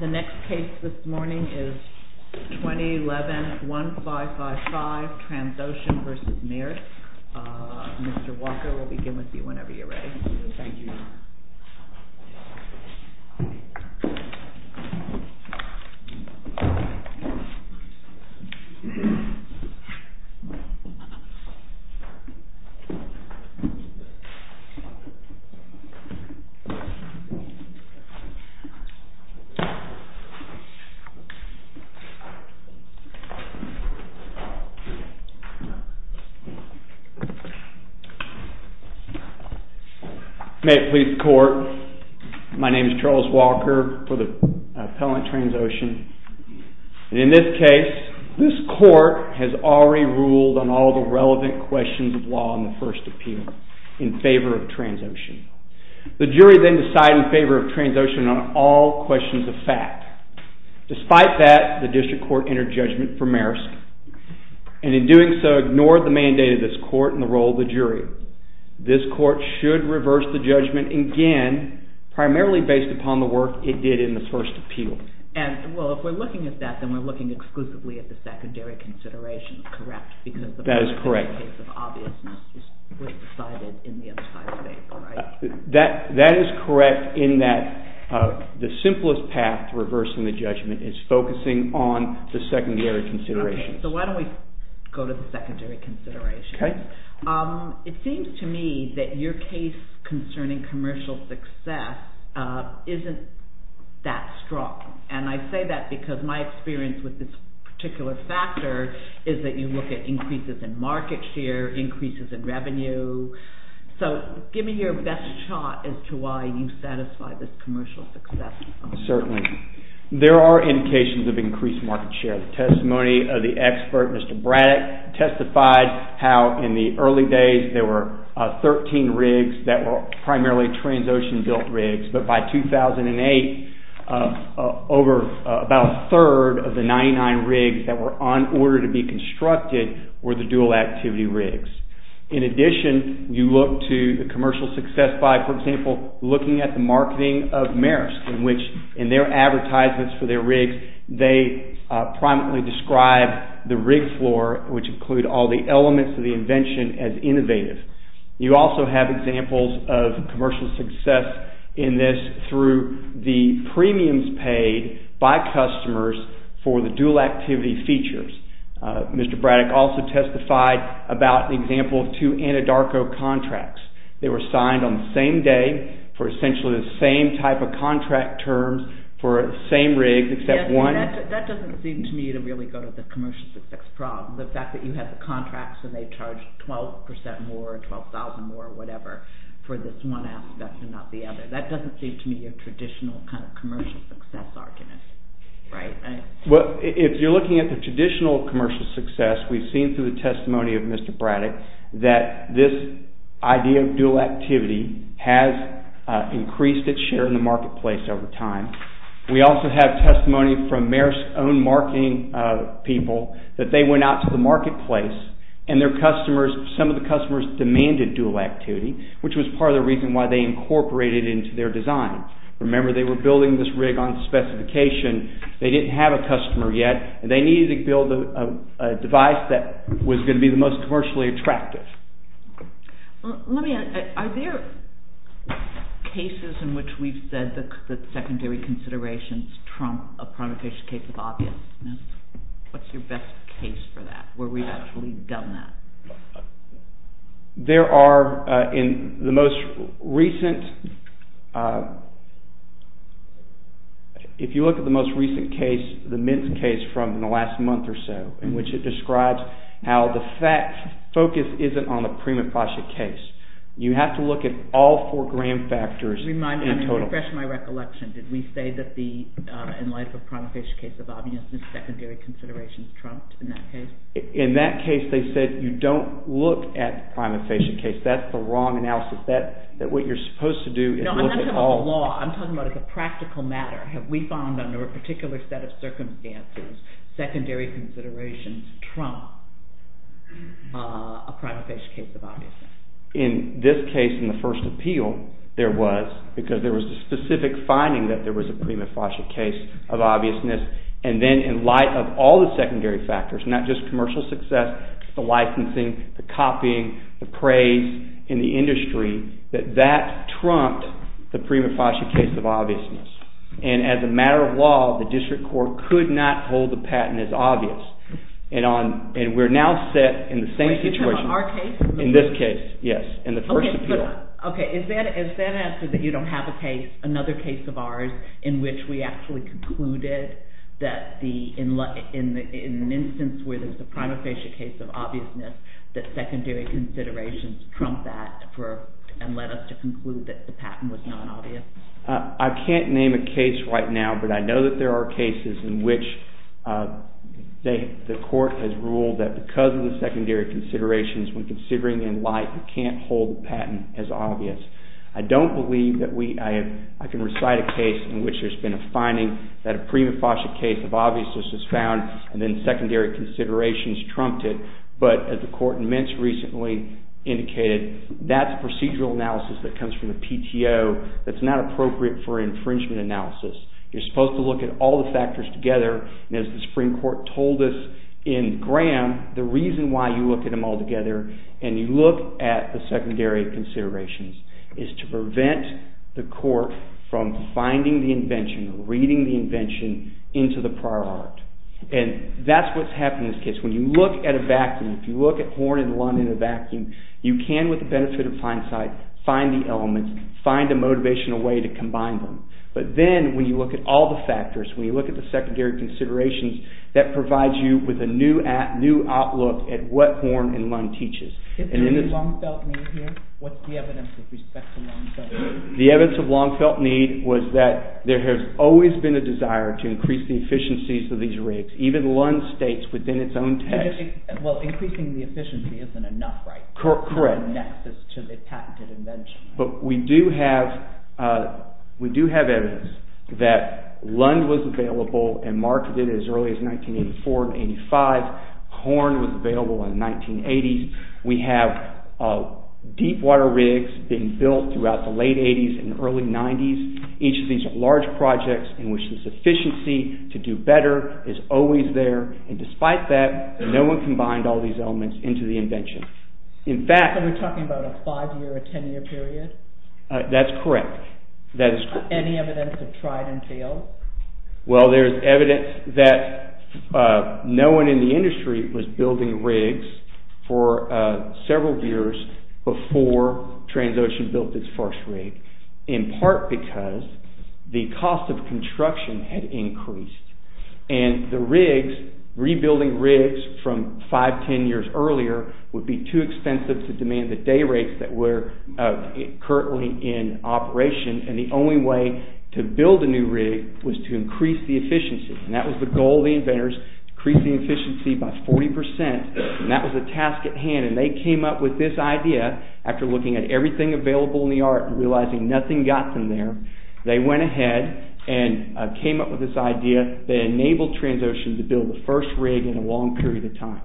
The next case this morning is 2011-1555 TRANSOCEAN v. MAERSK. Mr. Walker, we'll begin with you whenever you're ready. Thank you. May it please the court, my name is Charles Walker for the appellant TRANSOCEAN. In this case, this court has already ruled on all the relevant questions of law in the first appeal in favor of TRANSOCEAN. The jury then decided in favor of TRANSOCEAN on all questions of fact. Despite that, the district court entered judgment for MAERSK, and in doing so ignored the mandate of this court and the role of the jury. This court should reverse the judgment again, primarily based upon the work it did in the first appeal. If we're looking at that, then we're looking exclusively at the secondary consideration, correct? That is correct. That is correct in that the simplest path to reversing the judgment is focusing on the secondary considerations. Okay, so why don't we go to the secondary considerations. Okay. It seems to me that your case concerning commercial success isn't that strong. And I say that because my experience with this particular factor is that you look at increases in market share, increases in revenue. So give me your best shot as to why you satisfy this commercial success. Certainly. There are indications of increased market share. The testimony of the expert, Mr. Braddock, testified how in the early days there were 13 rigs that were primarily TRANSOCEAN built rigs. But by 2008, about a third of the 99 rigs that were on order to be constructed were the dual activity rigs. In addition, you look to the commercial success by, for example, looking at the marketing of Maersk, in which in their advertisements for their rigs they primarily describe the rig floor, which include all the elements of the invention, as innovative. You also have examples of commercial success in this through the premiums paid by customers for the dual activity features. Mr. Braddock also testified about an example of two Anadarko contracts. They were signed on the same day for essentially the same type of contract terms for the same rig except one. That doesn't seem to me to really go to the commercial success problem, the fact that you have the contracts and they charge 12% more or 12,000 more or whatever for this one aspect and not the other. That doesn't seem to me a traditional kind of commercial success argument, right? Well, if you're looking at the traditional commercial success, we've seen through the testimony of Mr. Braddock that this idea of dual activity has increased its share in the marketplace over time. We also have testimony from Maersk's own marketing people that they went out to the marketplace and some of the customers demanded dual activity, which was part of the reason why they incorporated it into their design. Remember, they were building this rig on specification. They didn't have a customer yet and they needed to build a device that was going to be the most commercially attractive. Let me ask, are there cases in which we've said that secondary considerations trump a primitive case of obviousness? What's your best case for that where we've actually done that? There are in the most recent – if you look at the most recent case, the Mintz case from the last month or so, in which it describes how the focus isn't on the prima facie case. You have to look at all four grand factors in total. Let me refresh my recollection. Did we say that in light of a primitive case of obviousness, secondary considerations trumped in that case? In that case, they said you don't look at the prima facie case. That's the wrong analysis. What you're supposed to do is look at all – No, I'm not talking about the law. I'm talking about the practical matter. Have we found under a particular set of circumstances, secondary considerations trump a prima facie case of obviousness? In this case, in the first appeal, there was because there was a specific finding that there was a prima facie case of obviousness. Then in light of all the secondary factors, not just commercial success, the licensing, the copying, the praise in the industry, that that trumped the prima facie case of obviousness. As a matter of law, the district court could not hold the patent as obvious. We're now set in the same situation. Are you talking about our case? In this case, yes, in the first appeal. Okay, is that answer that you don't have another case of ours in which we actually concluded that in an instance where there's a prima facie case of obviousness, that secondary considerations trump that and led us to conclude that the patent was not obvious? I can't name a case right now, but I know that there are cases in which the court has ruled that because of the secondary considerations, when considering in light, you can't hold the patent as obvious. I don't believe that I can recite a case in which there's been a finding that a prima facie case of obviousness is found, and then secondary considerations trumped it. But as the court in Mintz recently indicated, that's procedural analysis that comes from the PTO. That's not appropriate for infringement analysis. You're supposed to look at all the factors together. And as the Supreme Court told us in Graham, the reason why you look at them all together, and you look at the secondary considerations, is to prevent the court from finding the invention, reading the invention, into the prior art. And that's what's happening in this case. When you look at a vacuum, if you look at horn and lung in a vacuum, you can, with the benefit of hindsight, find the elements, find a motivational way to combine them. But then, when you look at all the factors, when you look at the secondary considerations, that provides you with a new outlook at what horn and lung teaches. Is there any long-felt need here? What's the evidence with respect to long-felt need? The evidence of long-felt need was that there has always been a desire to increase the efficiencies of these rigs, even Lund states within its own text. Well, increasing the efficiency isn't enough, right? Correct. It's not a nexus to the patented invention. But we do have evidence that Lund was available and marketed as early as 1984 and 1985. Horn was available in the 1980s. We have deep water rigs being built throughout the late 80s and early 90s. Each of these are large projects in which the sufficiency to do better is always there. And despite that, no one combined all these elements into the invention. So we're talking about a 5-year or 10-year period? That's correct. Any evidence of tried and failed? Well, there's evidence that no one in the industry was building rigs for several years before Transocean built its first rig, and the rigs, rebuilding rigs from 5, 10 years earlier would be too expensive to demand the day rates that were currently in operation. And the only way to build a new rig was to increase the efficiency. And that was the goal of the inventors, to increase the efficiency by 40%. And that was the task at hand. And they came up with this idea after looking at everything available in the art and realizing nothing got them there. They went ahead and came up with this idea. They enabled Transocean to build the first rig in a long period of time.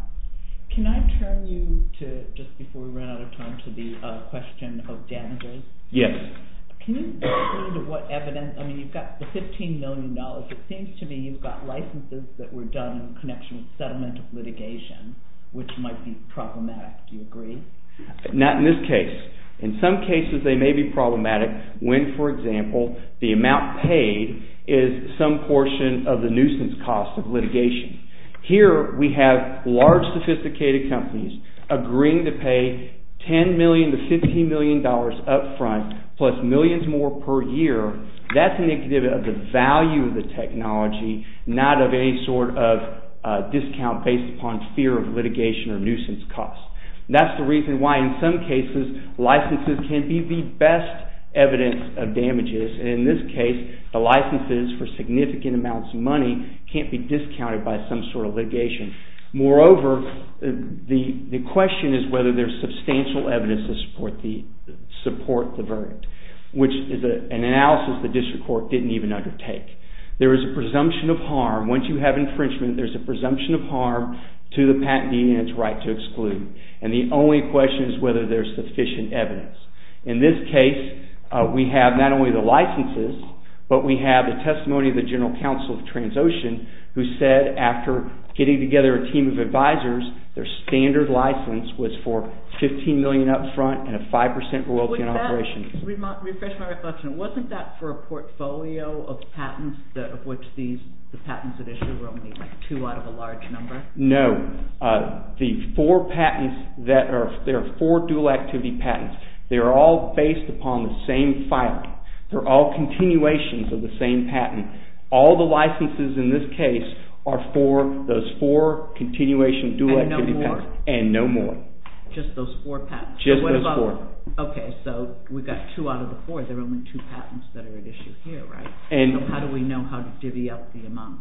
Can I turn you to, just before we run out of time, to the question of damages? Yes. Can you explain to what evidence, I mean, you've got the $15 million. It seems to me you've got licenses that were done in connection with settlement of litigation, which might be problematic. Do you agree? Not in this case. In some cases they may be problematic when, for example, the amount paid is some portion of the nuisance cost of litigation. Here we have large, sophisticated companies agreeing to pay $10 million to $15 million up front, plus millions more per year. That's indicative of the value of the technology, not of any sort of discount based upon fear of litigation or nuisance costs. That's the reason why in some cases licenses can be the best evidence of damages. In this case, the licenses for significant amounts of money can't be discounted by some sort of litigation. Moreover, the question is whether there's substantial evidence to support the verdict, which is an analysis the district court didn't even undertake. There is a presumption of harm. Once you have infringement, there's a presumption of harm to the patentee and its right to exclude. And the only question is whether there's sufficient evidence. In this case, we have not only the licenses, but we have the testimony of the general counsel of Transocean, who said after getting together a team of advisors, their standard license was for $15 million up front and a 5% royalty in operation. Refresh my reflection. Wasn't that for a portfolio of patents of which the patents at issue were only two out of a large number? No. There are four dual activity patents. They are all based upon the same filing. They're all continuations of the same patent. All the licenses in this case are for those four continuation dual activity patents and no more. Just those four patents? Just those four. Okay, so we've got two out of the four. There are only two patents that are at issue here, right? So how do we know how to divvy up the amount?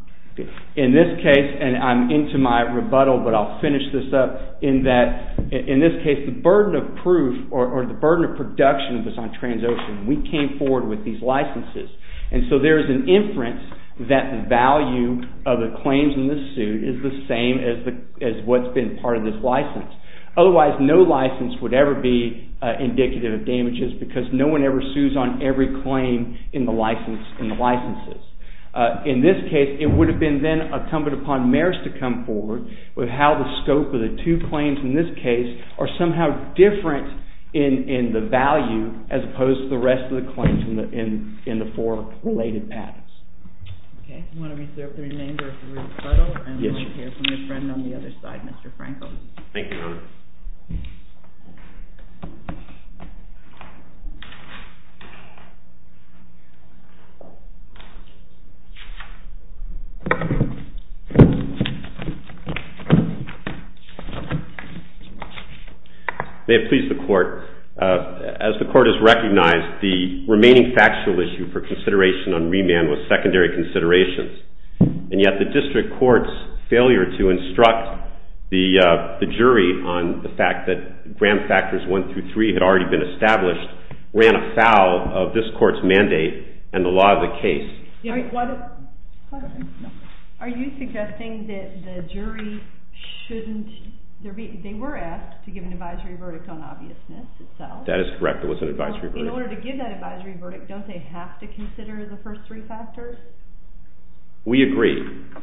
In this case, and I'm into my rebuttal, but I'll finish this up. In this case, the burden of proof or the burden of production was on Transocean. We came forward with these licenses. And so there is an inference that the value of the claims in this suit is the same as what's been part of this license. Otherwise, no license would ever be indicative of damages because no one ever sues on every claim in the licenses. In this case, it would have been then incumbent upon mayors to come forward with how the scope of the two claims in this case are somehow different in the value as opposed to the rest of the claims in the four related patents. Okay, we want to reserve the remainder of the rebuttal. Yes. And we'll hear from your friend on the other side, Mr. Frankel. Thank you, Your Honor. May it please the court. As the court has recognized, the remaining factual issue for consideration on remand was secondary considerations. And yet the district court's failure to instruct the jury on the fact that gram factors one through three had already been established ran afoul of this court's mandate and the law of the case. Are you suggesting that the jury shouldn't – they were asked to give an advisory verdict on obviousness itself. That is correct. It was an advisory verdict. Don't they have to consider the first three factors? We agree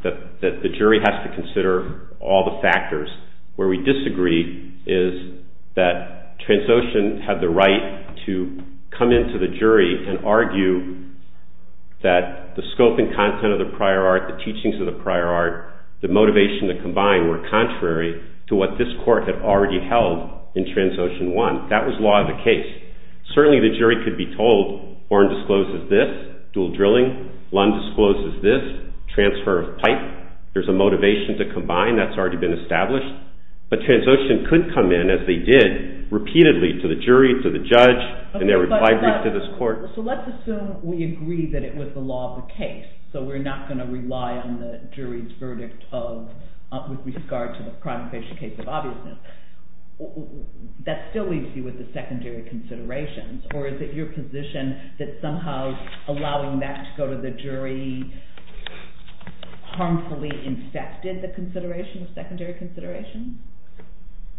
that the jury has to consider all the factors. Where we disagree is that Transocean had the right to come into the jury and argue that the scope and content of the prior art, the teachings of the prior art, the motivation that combined were contrary to what this court had already held in Transocean one. That was law of the case. Certainly the jury could be told, Warren discloses this, dual drilling. Lund discloses this, transfer of pipe. There's a motivation to combine that's already been established. But Transocean could come in, as they did, repeatedly to the jury, to the judge, and every five weeks to this court. So let's assume we agree that it was the law of the case. So we're not going to rely on the jury's verdict with regard to the primary case of obviousness. That still leaves you with the secondary considerations. Or is it your position that somehow allowing that to go to the jury harmfully infected the consideration, the secondary consideration?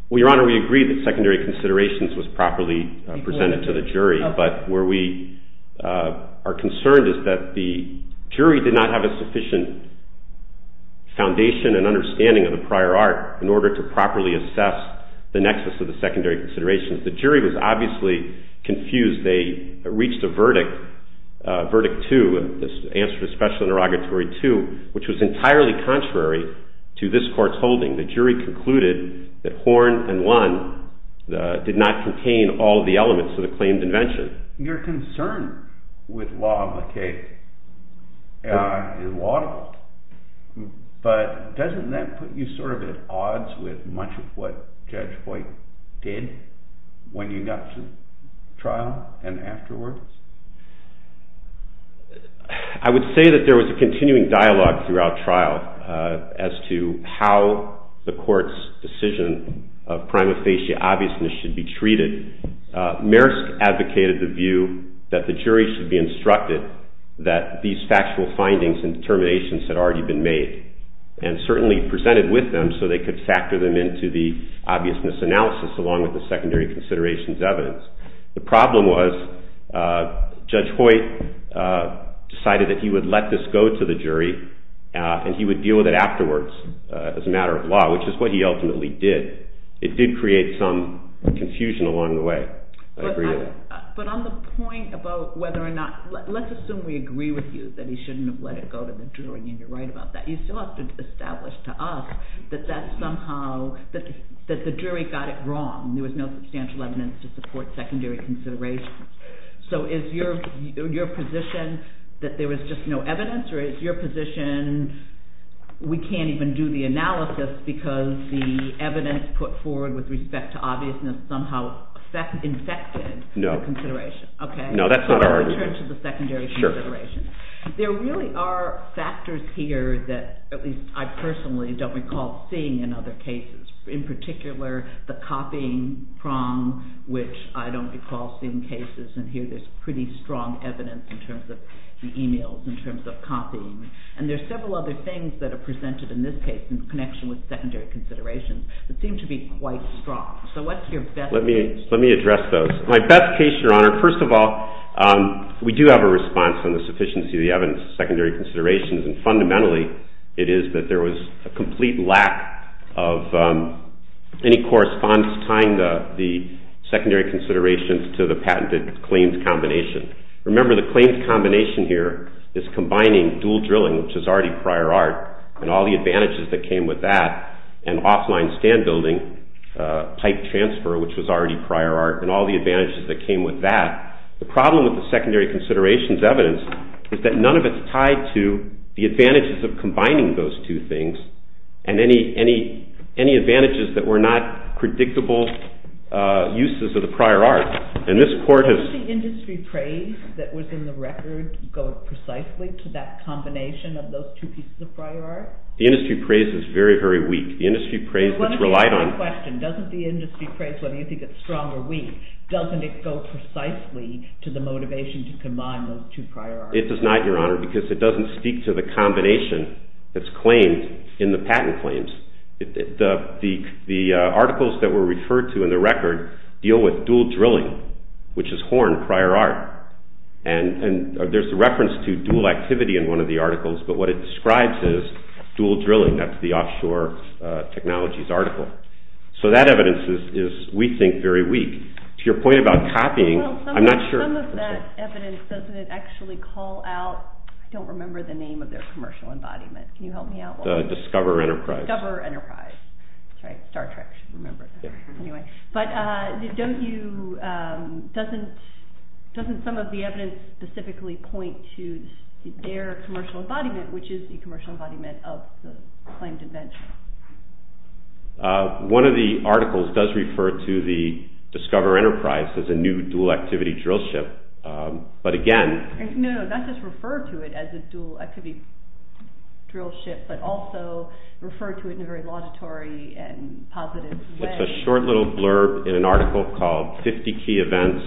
Well, Your Honor, we agree that secondary considerations was properly presented to the jury. But where we are concerned is that the jury did not have a sufficient foundation and understanding of the prior art in order to properly assess the nexus of the secondary considerations. The jury was obviously confused. They reached a verdict, Verdict 2, the answer to Special Interrogatory 2, which was entirely contrary to this court's holding. The jury concluded that Horne and Lund did not contain all of the elements of the claimed invention. Your concern with law of the case is laudable, but doesn't that put you sort of at odds with much of what Judge Hoyt did when you got to trial and afterwards? I would say that there was a continuing dialogue throughout trial as to how the court's decision of prima facie obviousness should be treated. Maersk advocated the view that the jury should be instructed that these factual findings and determinations had already been made, and certainly presented with them so they could factor them into the obviousness analysis along with the secondary considerations evidence. The problem was Judge Hoyt decided that he would let this go to the jury and he would deal with it afterwards as a matter of law, which is what he ultimately did. It did create some confusion along the way, I agree with that. But on the point about whether or not, let's assume we agree with you that he shouldn't have let it go to the jury and you're right about that. You still have to establish to us that that somehow, that the jury got it wrong. There was no substantial evidence to support secondary considerations. So is your position that there was just no evidence? Or is your position we can't even do the analysis because the evidence put forward with respect to obviousness somehow infected the consideration? No, that's not our argument. Okay, so let's return to the secondary considerations. There really are factors here that at least I personally don't recall seeing in other cases. In particular, the copying prong, which I don't recall seeing cases, and here there's pretty strong evidence in terms of the emails, in terms of copying. And there's several other things that are presented in this case in connection with secondary considerations that seem to be quite strong. So what's your best case? Let me address those. My best case, Your Honor, first of all, we do have a response on the sufficiency of the evidence of secondary considerations. And fundamentally, it is that there was a complete lack of any correspondence tying the secondary considerations to the patented claims combination. Remember, the claims combination here is combining dual drilling, which is already prior art, and all the advantages that came with that, and offline stand building, pipe transfer, which was already prior art, and all the advantages that came with that. The problem with the secondary considerations evidence is that none of it's tied to the advantages of combining those two things and any advantages that were not predictable uses of the prior art. Doesn't the industry praise that was in the record go precisely to that combination of those two pieces of prior art? The industry praise is very, very weak. The industry praise that's relied on... Well, let me ask you a question. Doesn't the industry praise, whether you think it's strong or weak, doesn't it go precisely to the motivation to combine those two prior art? It does not, Your Honor, because it doesn't speak to the combination that's claimed in the patent claims. The articles that were referred to in the record deal with dual drilling, which is horn, prior art. And there's a reference to dual activity in one of the articles, but what it describes is dual drilling. That's the offshore technologies article. So that evidence is, we think, very weak. To your point about copying, I'm not sure... Well, some of that evidence, doesn't it actually call out... I don't remember the name of their commercial embodiment. Can you help me out? The Discover Enterprise. Discover Enterprise. That's right. Star Trek should remember that. Yeah. Some of the evidence specifically points to their commercial embodiment, which is the commercial embodiment of the claimed invention. One of the articles does refer to the Discover Enterprise as a new dual activity drill ship, but again... No, no, not just refer to it as a dual activity drill ship, but also refer to it in a very laudatory and positive way. There's a short little blurb in an article called 50 Key Events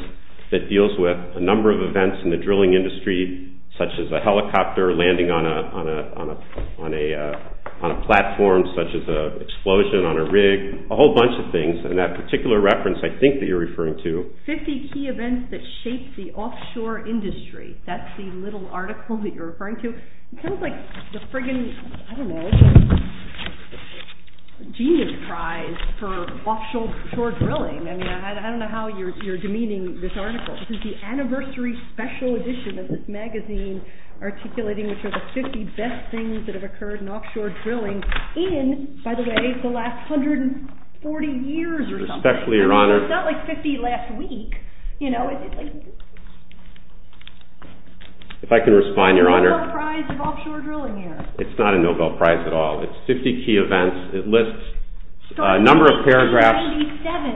that deals with a number of events in the drilling industry, such as a helicopter landing on a platform, such as an explosion on a rig, a whole bunch of things. And that particular reference, I think that you're referring to... 50 Key Events That Shaped the Offshore Industry. That's the little article that you're referring to. It sounds like the friggin', I don't know, genius prize for offshore drilling. I mean, I don't know how you're demeaning this article. This is the anniversary special edition of this magazine articulating which are the 50 best things that have occurred in offshore drilling in, by the way, the last 140 years or something. Especially, Your Honor... It's not like 50 last week, you know. If I can respond, Your Honor. It's not a Nobel Prize of offshore drilling here. It's not a Nobel Prize at all. It's 50 Key Events. It lists a number of paragraphs.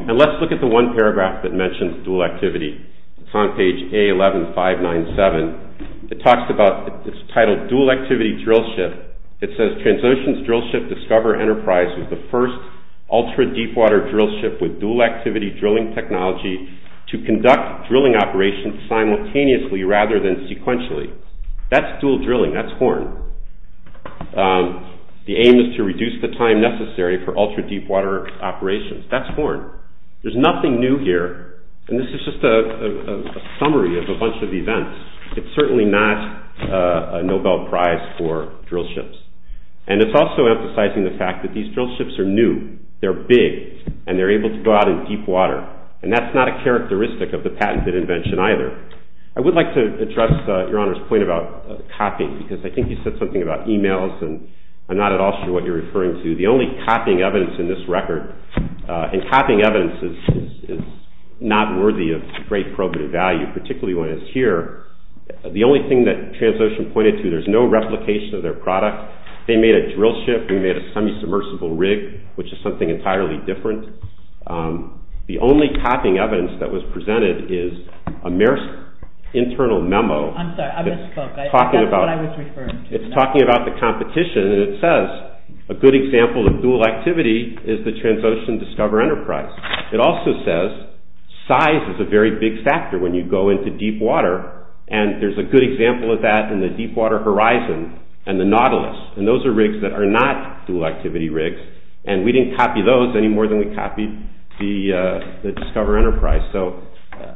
And let's look at the one paragraph that mentions dual activity. It's on page A11597. It talks about, it's titled Dual Activity Drill Ship. It says, TransOcean's Drill Ship Discover Enterprise is the first ultra-deepwater drill ship with dual activity drilling technology to conduct drilling operations simultaneously rather than sequentially. That's dual drilling. That's horn. The aim is to reduce the time necessary for ultra-deepwater operations. That's horn. There's nothing new here. And this is just a summary of a bunch of events. It's certainly not a Nobel Prize for drill ships. And it's also emphasizing the fact that these drill ships are new. They're big. And they're able to go out in deep water. And that's not a characteristic of the patented invention either. I would like to address Your Honor's point about copying because I think you said something about emails and I'm not at all sure what you're referring to. The only copying evidence in this record, and copying evidence is not worthy of great probative value, particularly when it's here. The only thing that TransOcean pointed to, there's no replication of their product. They made a drill ship. We made a semi-submersible rig, which is something entirely different. The only copying evidence that was presented is a Marist internal memo. I'm sorry. I misspoke. That's not what I was referring to. It's talking about the competition and it says a good example of dual activity is the TransOcean Discover Enterprise. It also says size is a very big factor when you go into deep water. And there's a good example of that in the Deepwater Horizon and the Nautilus. And those are rigs that are not dual activity rigs. And we didn't copy those any more than we copied the Discover Enterprise. So,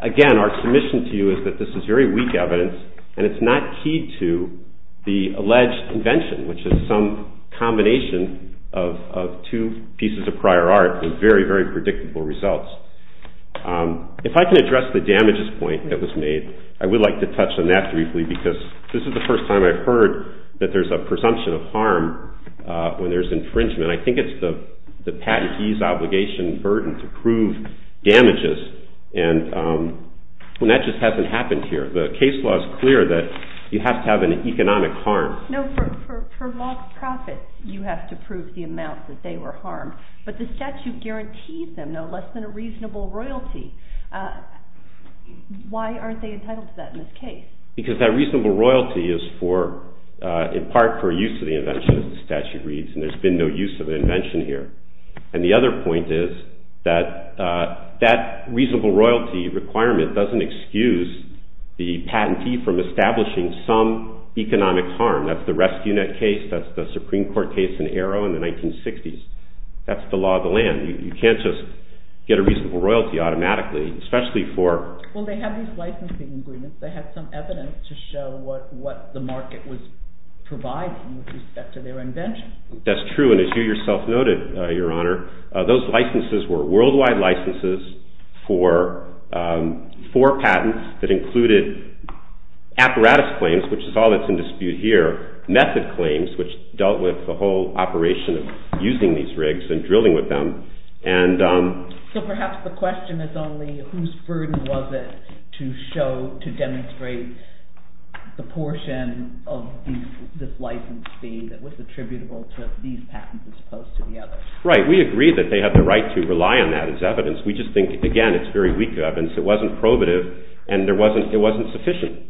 again, our submission to you is that this is very weak evidence and it's not key to the alleged invention, which is some combination of two pieces of prior art with very, very predictable results. If I can address the damages point that was made, I would like to touch on that briefly, because this is the first time I've heard that there's a presumption of harm when there's infringement. And I think it's the patentee's obligation burden to prove damages. And that just hasn't happened here. The case law is clear that you have to have an economic harm. No, for mock profits, you have to prove the amount that they were harmed. But the statute guarantees them no less than a reasonable royalty. Why aren't they entitled to that in this case? Because that reasonable royalty is for, in part, for use of the invention, as the statute reads. And there's been no use of the invention here. And the other point is that that reasonable royalty requirement doesn't excuse the patentee from establishing some economic harm. That's the Rescue Net case, that's the Supreme Court case in Arrow in the 1960s. That's the law of the land. You can't just get a reasonable royalty automatically, especially for... Well, they have these licensing agreements. They had some evidence to show what the market was providing with respect to their invention. That's true. And as you yourself noted, Your Honor, those licenses were worldwide licenses for patents that included apparatus claims, which is all that's in dispute here, method claims, which dealt with the whole operation of using these rigs and drilling with them. So perhaps the question is only whose burden was it to demonstrate the portion of this license fee that was attributable to these patents as opposed to the others? Right. We agree that they have the right to rely on that as evidence. We just think, again, it's very weak evidence. It wasn't probative, and it wasn't sufficient.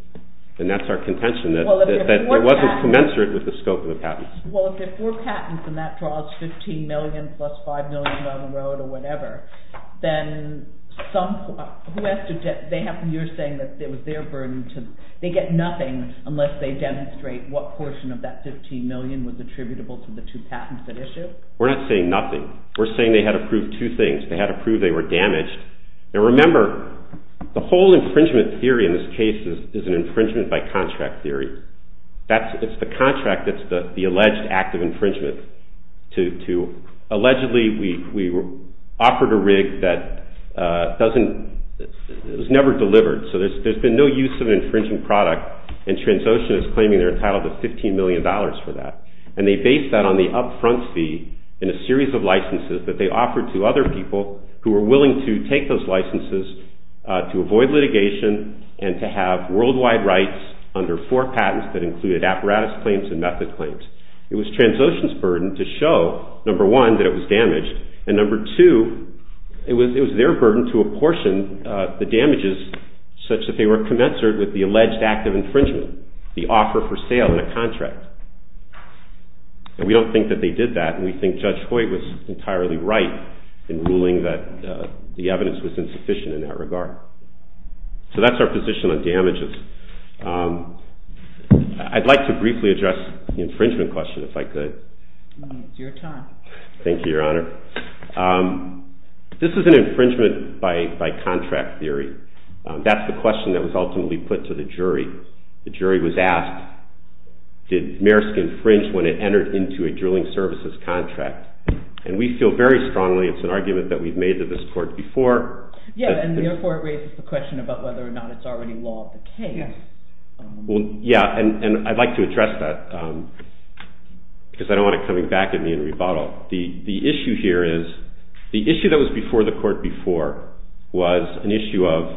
And that's our contention, that it wasn't commensurate with the scope of the patents. Well, if there are four patents and that draws $15 million plus $5 million down the road or whatever, then some... You're saying that it was their burden to... They get nothing unless they demonstrate what portion of that $15 million was attributable to the two patents at issue? We're not saying nothing. We're saying they had to prove two things. They had to prove they were damaged. Now, remember, the whole infringement theory in this case is an infringement by contract theory. It's the contract that's the alleged act of infringement. Allegedly, we offered a rig that was never delivered. So there's been no use of an infringing product, and Transocean is claiming they're entitled to $15 million for that. And they based that on the upfront fee in a series of licenses that they offered to other people who were willing to take those licenses to avoid litigation and to have worldwide rights under four patents that included apparatus claims and method claims. It was Transocean's burden to show, number one, that it was damaged, and number two, it was their burden to apportion the damages such that they were commensurate with the alleged act of infringement, the offer for sale in a contract. And we don't think that they did that, and we think Judge Hoyt was entirely right in ruling that the evidence was insufficient in that regard. So that's our position on damages. I'd like to briefly address the infringement question, if I could. It's your time. Thank you, Your Honor. This is an infringement by contract theory. That's the question that was ultimately put to the jury. The jury was asked, did Maersk infringe when it entered into a drilling services contract? And we feel very strongly it's an argument that we've made to this court before. Yeah, and therefore it raises the question about whether or not it's already law of the cave. Yeah, and I'd like to address that because I don't want it coming back at me in rebuttal. The issue here is, the issue that was before the court before was an issue of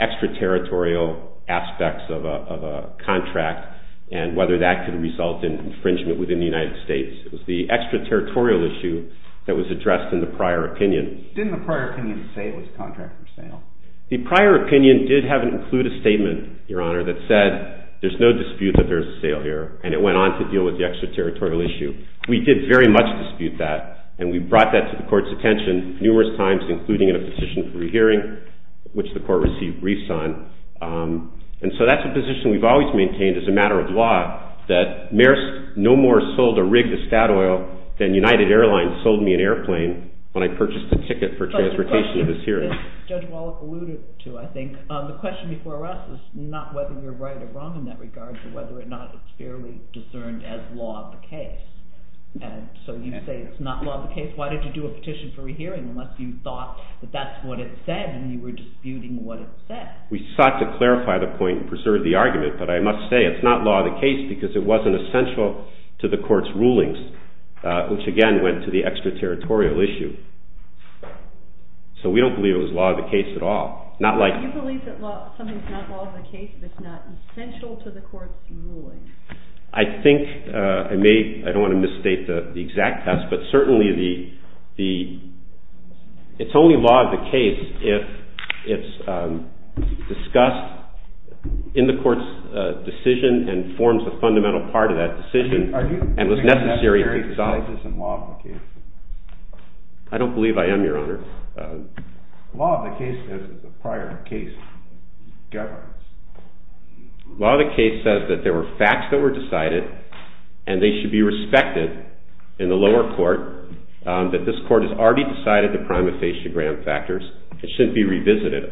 extraterritorial aspects of a contract and whether that could result in infringement within the United States. It was the extraterritorial issue that was addressed in the prior opinion. Didn't the prior opinion say it was contract for sale? The prior opinion did include a statement, Your Honor, that said there's no dispute that there's a sale here, and it went on to deal with the extraterritorial issue. We did very much dispute that, and we brought that to the court's attention numerous times, including in a position for a hearing, which the court received briefs on. And so that's a position we've always maintained as a matter of law, that Maersk no more sold a rig to Statoil than United Airlines sold me an airplane when I purchased a ticket for transportation to this hearing. Judge Wallace alluded to, I think, the question before us is not whether you're right or wrong in that regard, but whether or not it's fairly discerned as law of the case. And so you say it's not law of the case? Why did you do a petition for a hearing unless you thought that that's what it said and you were disputing what it said? We sought to clarify the point and preserve the argument, but I must say it's not law of the case because it wasn't essential to the court's rulings, which again went to the extraterritorial issue. So we don't believe it was law of the case at all. Do you believe that something's not law of the case if it's not essential to the court's ruling? I don't want to misstate the exact test, but certainly it's only law of the case if it's discussed in the court's decision and forms a fundamental part of that decision and was necessary to decide. I don't believe I am, Your Honor. Law of the case says that there were facts that were decided and they should be respected in the lower court, that this court has already decided the prima facie grant factors. It shouldn't be revisited.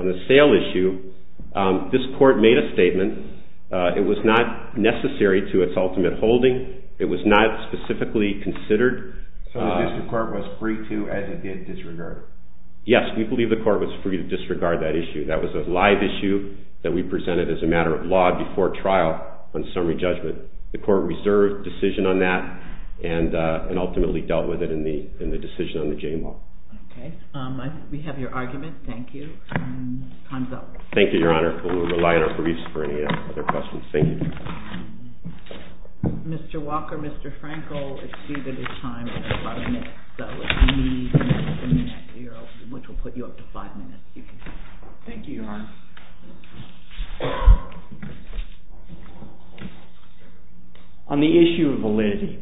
Yes, we believe the court was free to disregard that issue. That was a live issue that we presented as a matter of law before trial on summary judgment. The court reserved decision on that and ultimately dealt with it in the decision on the J-law. Okay. We have your argument. Thank you. Thank you, Your Honor. We'll rely on our producer for any other questions. Thank you. Thank you, Your Honor. On the issue of validity,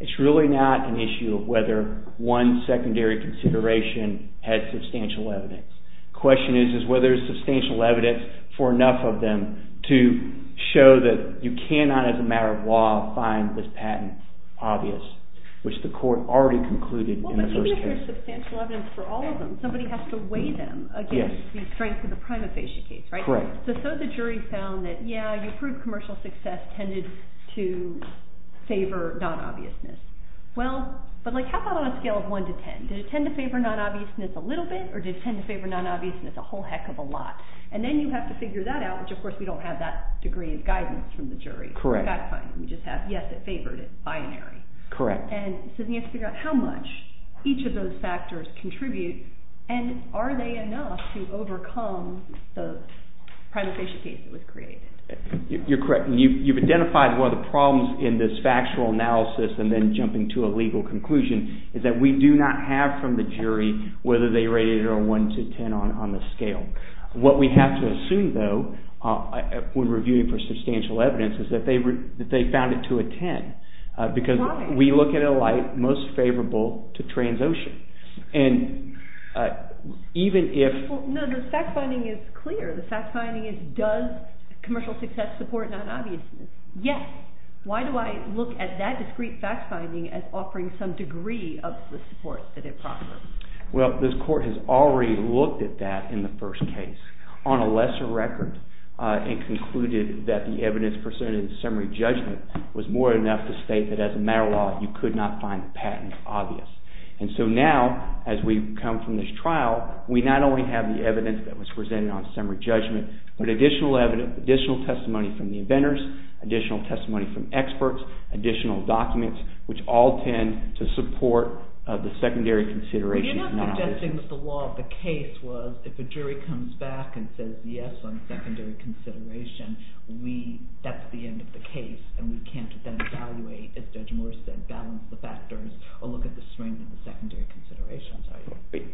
it's really not an issue of whether one secondary consideration had substantial evidence. The question is whether there's substantial evidence for enough of them to show that you cannot, as a matter of law, find this patent obvious, which the court already concluded in the first case. But even if there's substantial evidence for all of them, somebody has to weigh them against the strength of the prima facie case, right? Correct. So the jury found that, yeah, you proved commercial success tended to favor non-obviousness. Well, but how about on a scale of 1 to 10? Did it tend to favor non-obviousness a little bit, or did it tend to favor non-obviousness a whole heck of a lot? And then you have to figure that out, which, of course, we don't have that degree of guidance from the jury. Correct. We just have, yes, it favored it, binary. Correct. And so then you have to figure out how much each of those factors contribute, and are they enough to overcome the prima facie case that was created? You're correct. You've identified one of the problems in this factual analysis, and then jumping to a legal conclusion, is that we do not have from the jury whether they rated it a 1 to 10 on the scale. What we have to assume, though, when reviewing for substantial evidence, is that they found it to a 10. Why? Because we look at it like most favorable to transocean. No, the fact-finding is clear. The fact-finding is, does commercial success support non-obviousness? Yes. Why do I look at that discrete fact-finding as offering some degree of the support that it proffers? Well, this court has already looked at that in the first case on a lesser record and concluded that the evidence presented in the summary judgment was more than enough to state that as a matter of law, you could not find the patent obvious. And so now, as we come from this trial, we not only have the evidence that was presented on summary judgment, but additional testimony from the inventors, additional testimony from experts, additional documents, which all tend to support the secondary consideration of non-obviousness.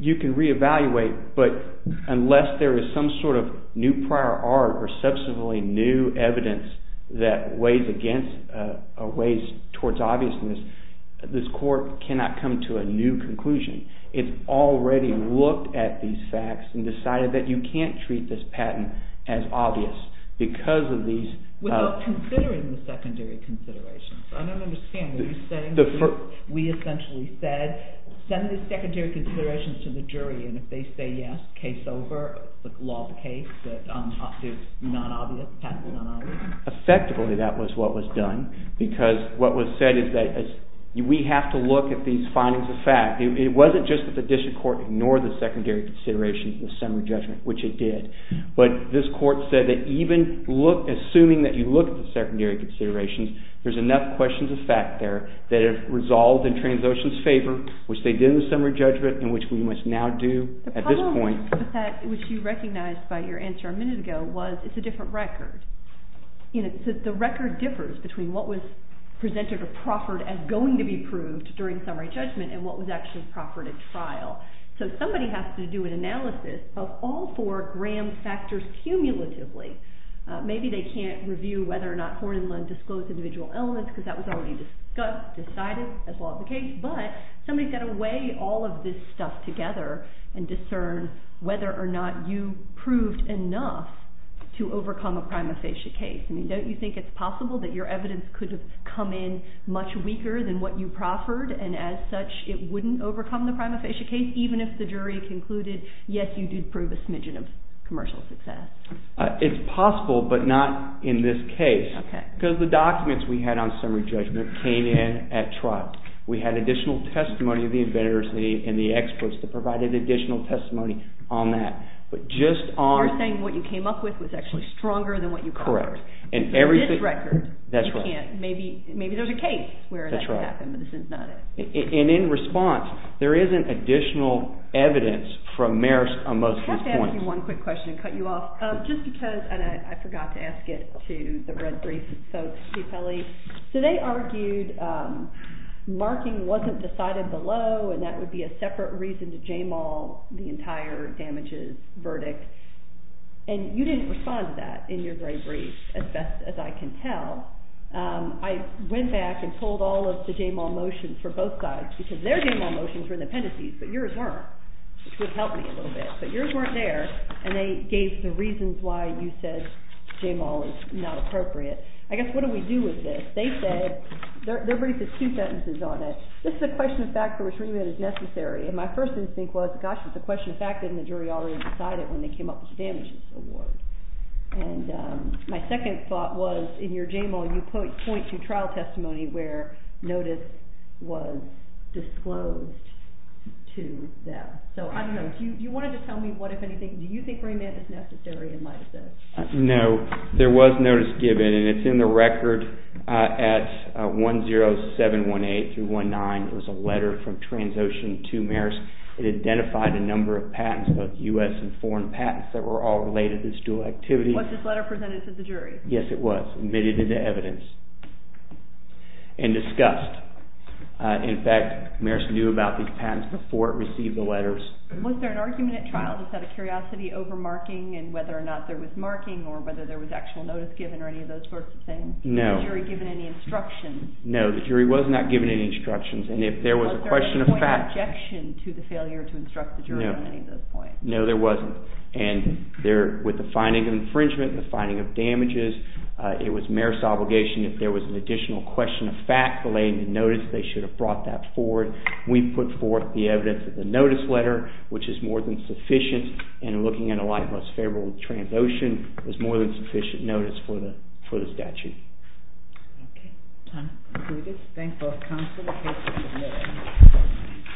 You can reevaluate, but unless there is some sort of new prior art or substantively new evidence that weighs towards obviousness, this court cannot come to a new conclusion. It's already looked at these facts and decided that you can't treat this patent as obvious because of these… Without considering the secondary considerations. I don't understand what you're saying. We essentially said, send the secondary considerations to the jury, and if they say yes, case over, the law of the case, that it's non-obvious, patent is non-obvious? Effectively, that was what was done because what was said is that we have to look at these findings of fact. It wasn't just that the district court ignored the secondary considerations in the summary judgment, which it did. But this court said that even assuming that you look at the secondary considerations, there's enough questions of fact there that it resolved in Transocean's favor, which they did in the summary judgment and which we must now do at this point. But that, which you recognized by your answer a minute ago, was it's a different record. The record differs between what was presented or proffered as going to be proved during summary judgment and what was actually proffered at trial. So somebody has to do an analysis of all four Graham factors cumulatively. Maybe they can't review whether or not Horn and Lund disclosed individual elements because that was already discussed, decided as law of the case. But somebody's got to weigh all of this stuff together and discern whether or not you proved enough to overcome a prima facie case. I mean, don't you think it's possible that your evidence could have come in much weaker than what you proffered, and as such, it wouldn't overcome the prima facie case, even if the jury concluded, yes, you did prove a smidgen of commercial success? It's possible, but not in this case. Okay. Because the documents we had on summary judgment came in at trial. We had additional testimony of the inventors and the experts that provided additional testimony on that. But just on... You're saying what you came up with was actually stronger than what you proffered. Correct. In this record, you can't. That's right. Maybe there's a case where that could happen, but this is not it. And in response, there isn't additional evidence from Maersk on most of these points. I wanted to ask you one quick question and cut you off. Just because, and I forgot to ask it to the red brief folks, so they argued marking wasn't decided below, and that would be a separate reason to JMAW the entire damages verdict. And you didn't respond to that in your gray brief, as best as I can tell. I went back and pulled all of the JMAW motions for both sides, because their JMAW motions were in the appendices, but yours weren't, which would help me a little bit. But yours weren't there, and they gave the reasons why you said JMAW is not appropriate. I guess what do we do with this? They said, their brief has two sentences on it. This is a question of fact for which remit is necessary. And my first instinct was, gosh, it's a question of fact, and the jury already decided when they came up with the damages award. And my second thought was, in your JMAW, you point to trial testimony where notice was disclosed to them. So, I don't know. Do you want to tell me what, if anything, do you think remit is necessary in light of this? No. There was notice given, and it's in the record at 10718-19. It was a letter from Transocean to Marist. It identified a number of patents, both U.S. and foreign patents, that were all related to this dual activity. Was this letter presented to the jury? Yes, it was, admitted into evidence, and discussed. In fact, Marist knew about these patents before it received the letters. Was there an argument at trial? Was that a curiosity over marking, and whether or not there was marking, or whether there was actual notice given, or any of those sorts of things? No. Was the jury given any instructions? No, the jury was not given any instructions. Was there any point of objection to the failure to instruct the jury on any of those points? No. No, there wasn't. And with the finding of infringement, the finding of damages, it was Marist's obligation, if there was an additional question of fact, delaying the notice, they should have brought that forward. We put forth the evidence of the notice letter, which is more than sufficient, and looking in a light of us favorable with Transocean, was more than sufficient notice for the statute. Okay. Time concluded. Thank the counsel. The case is admitted.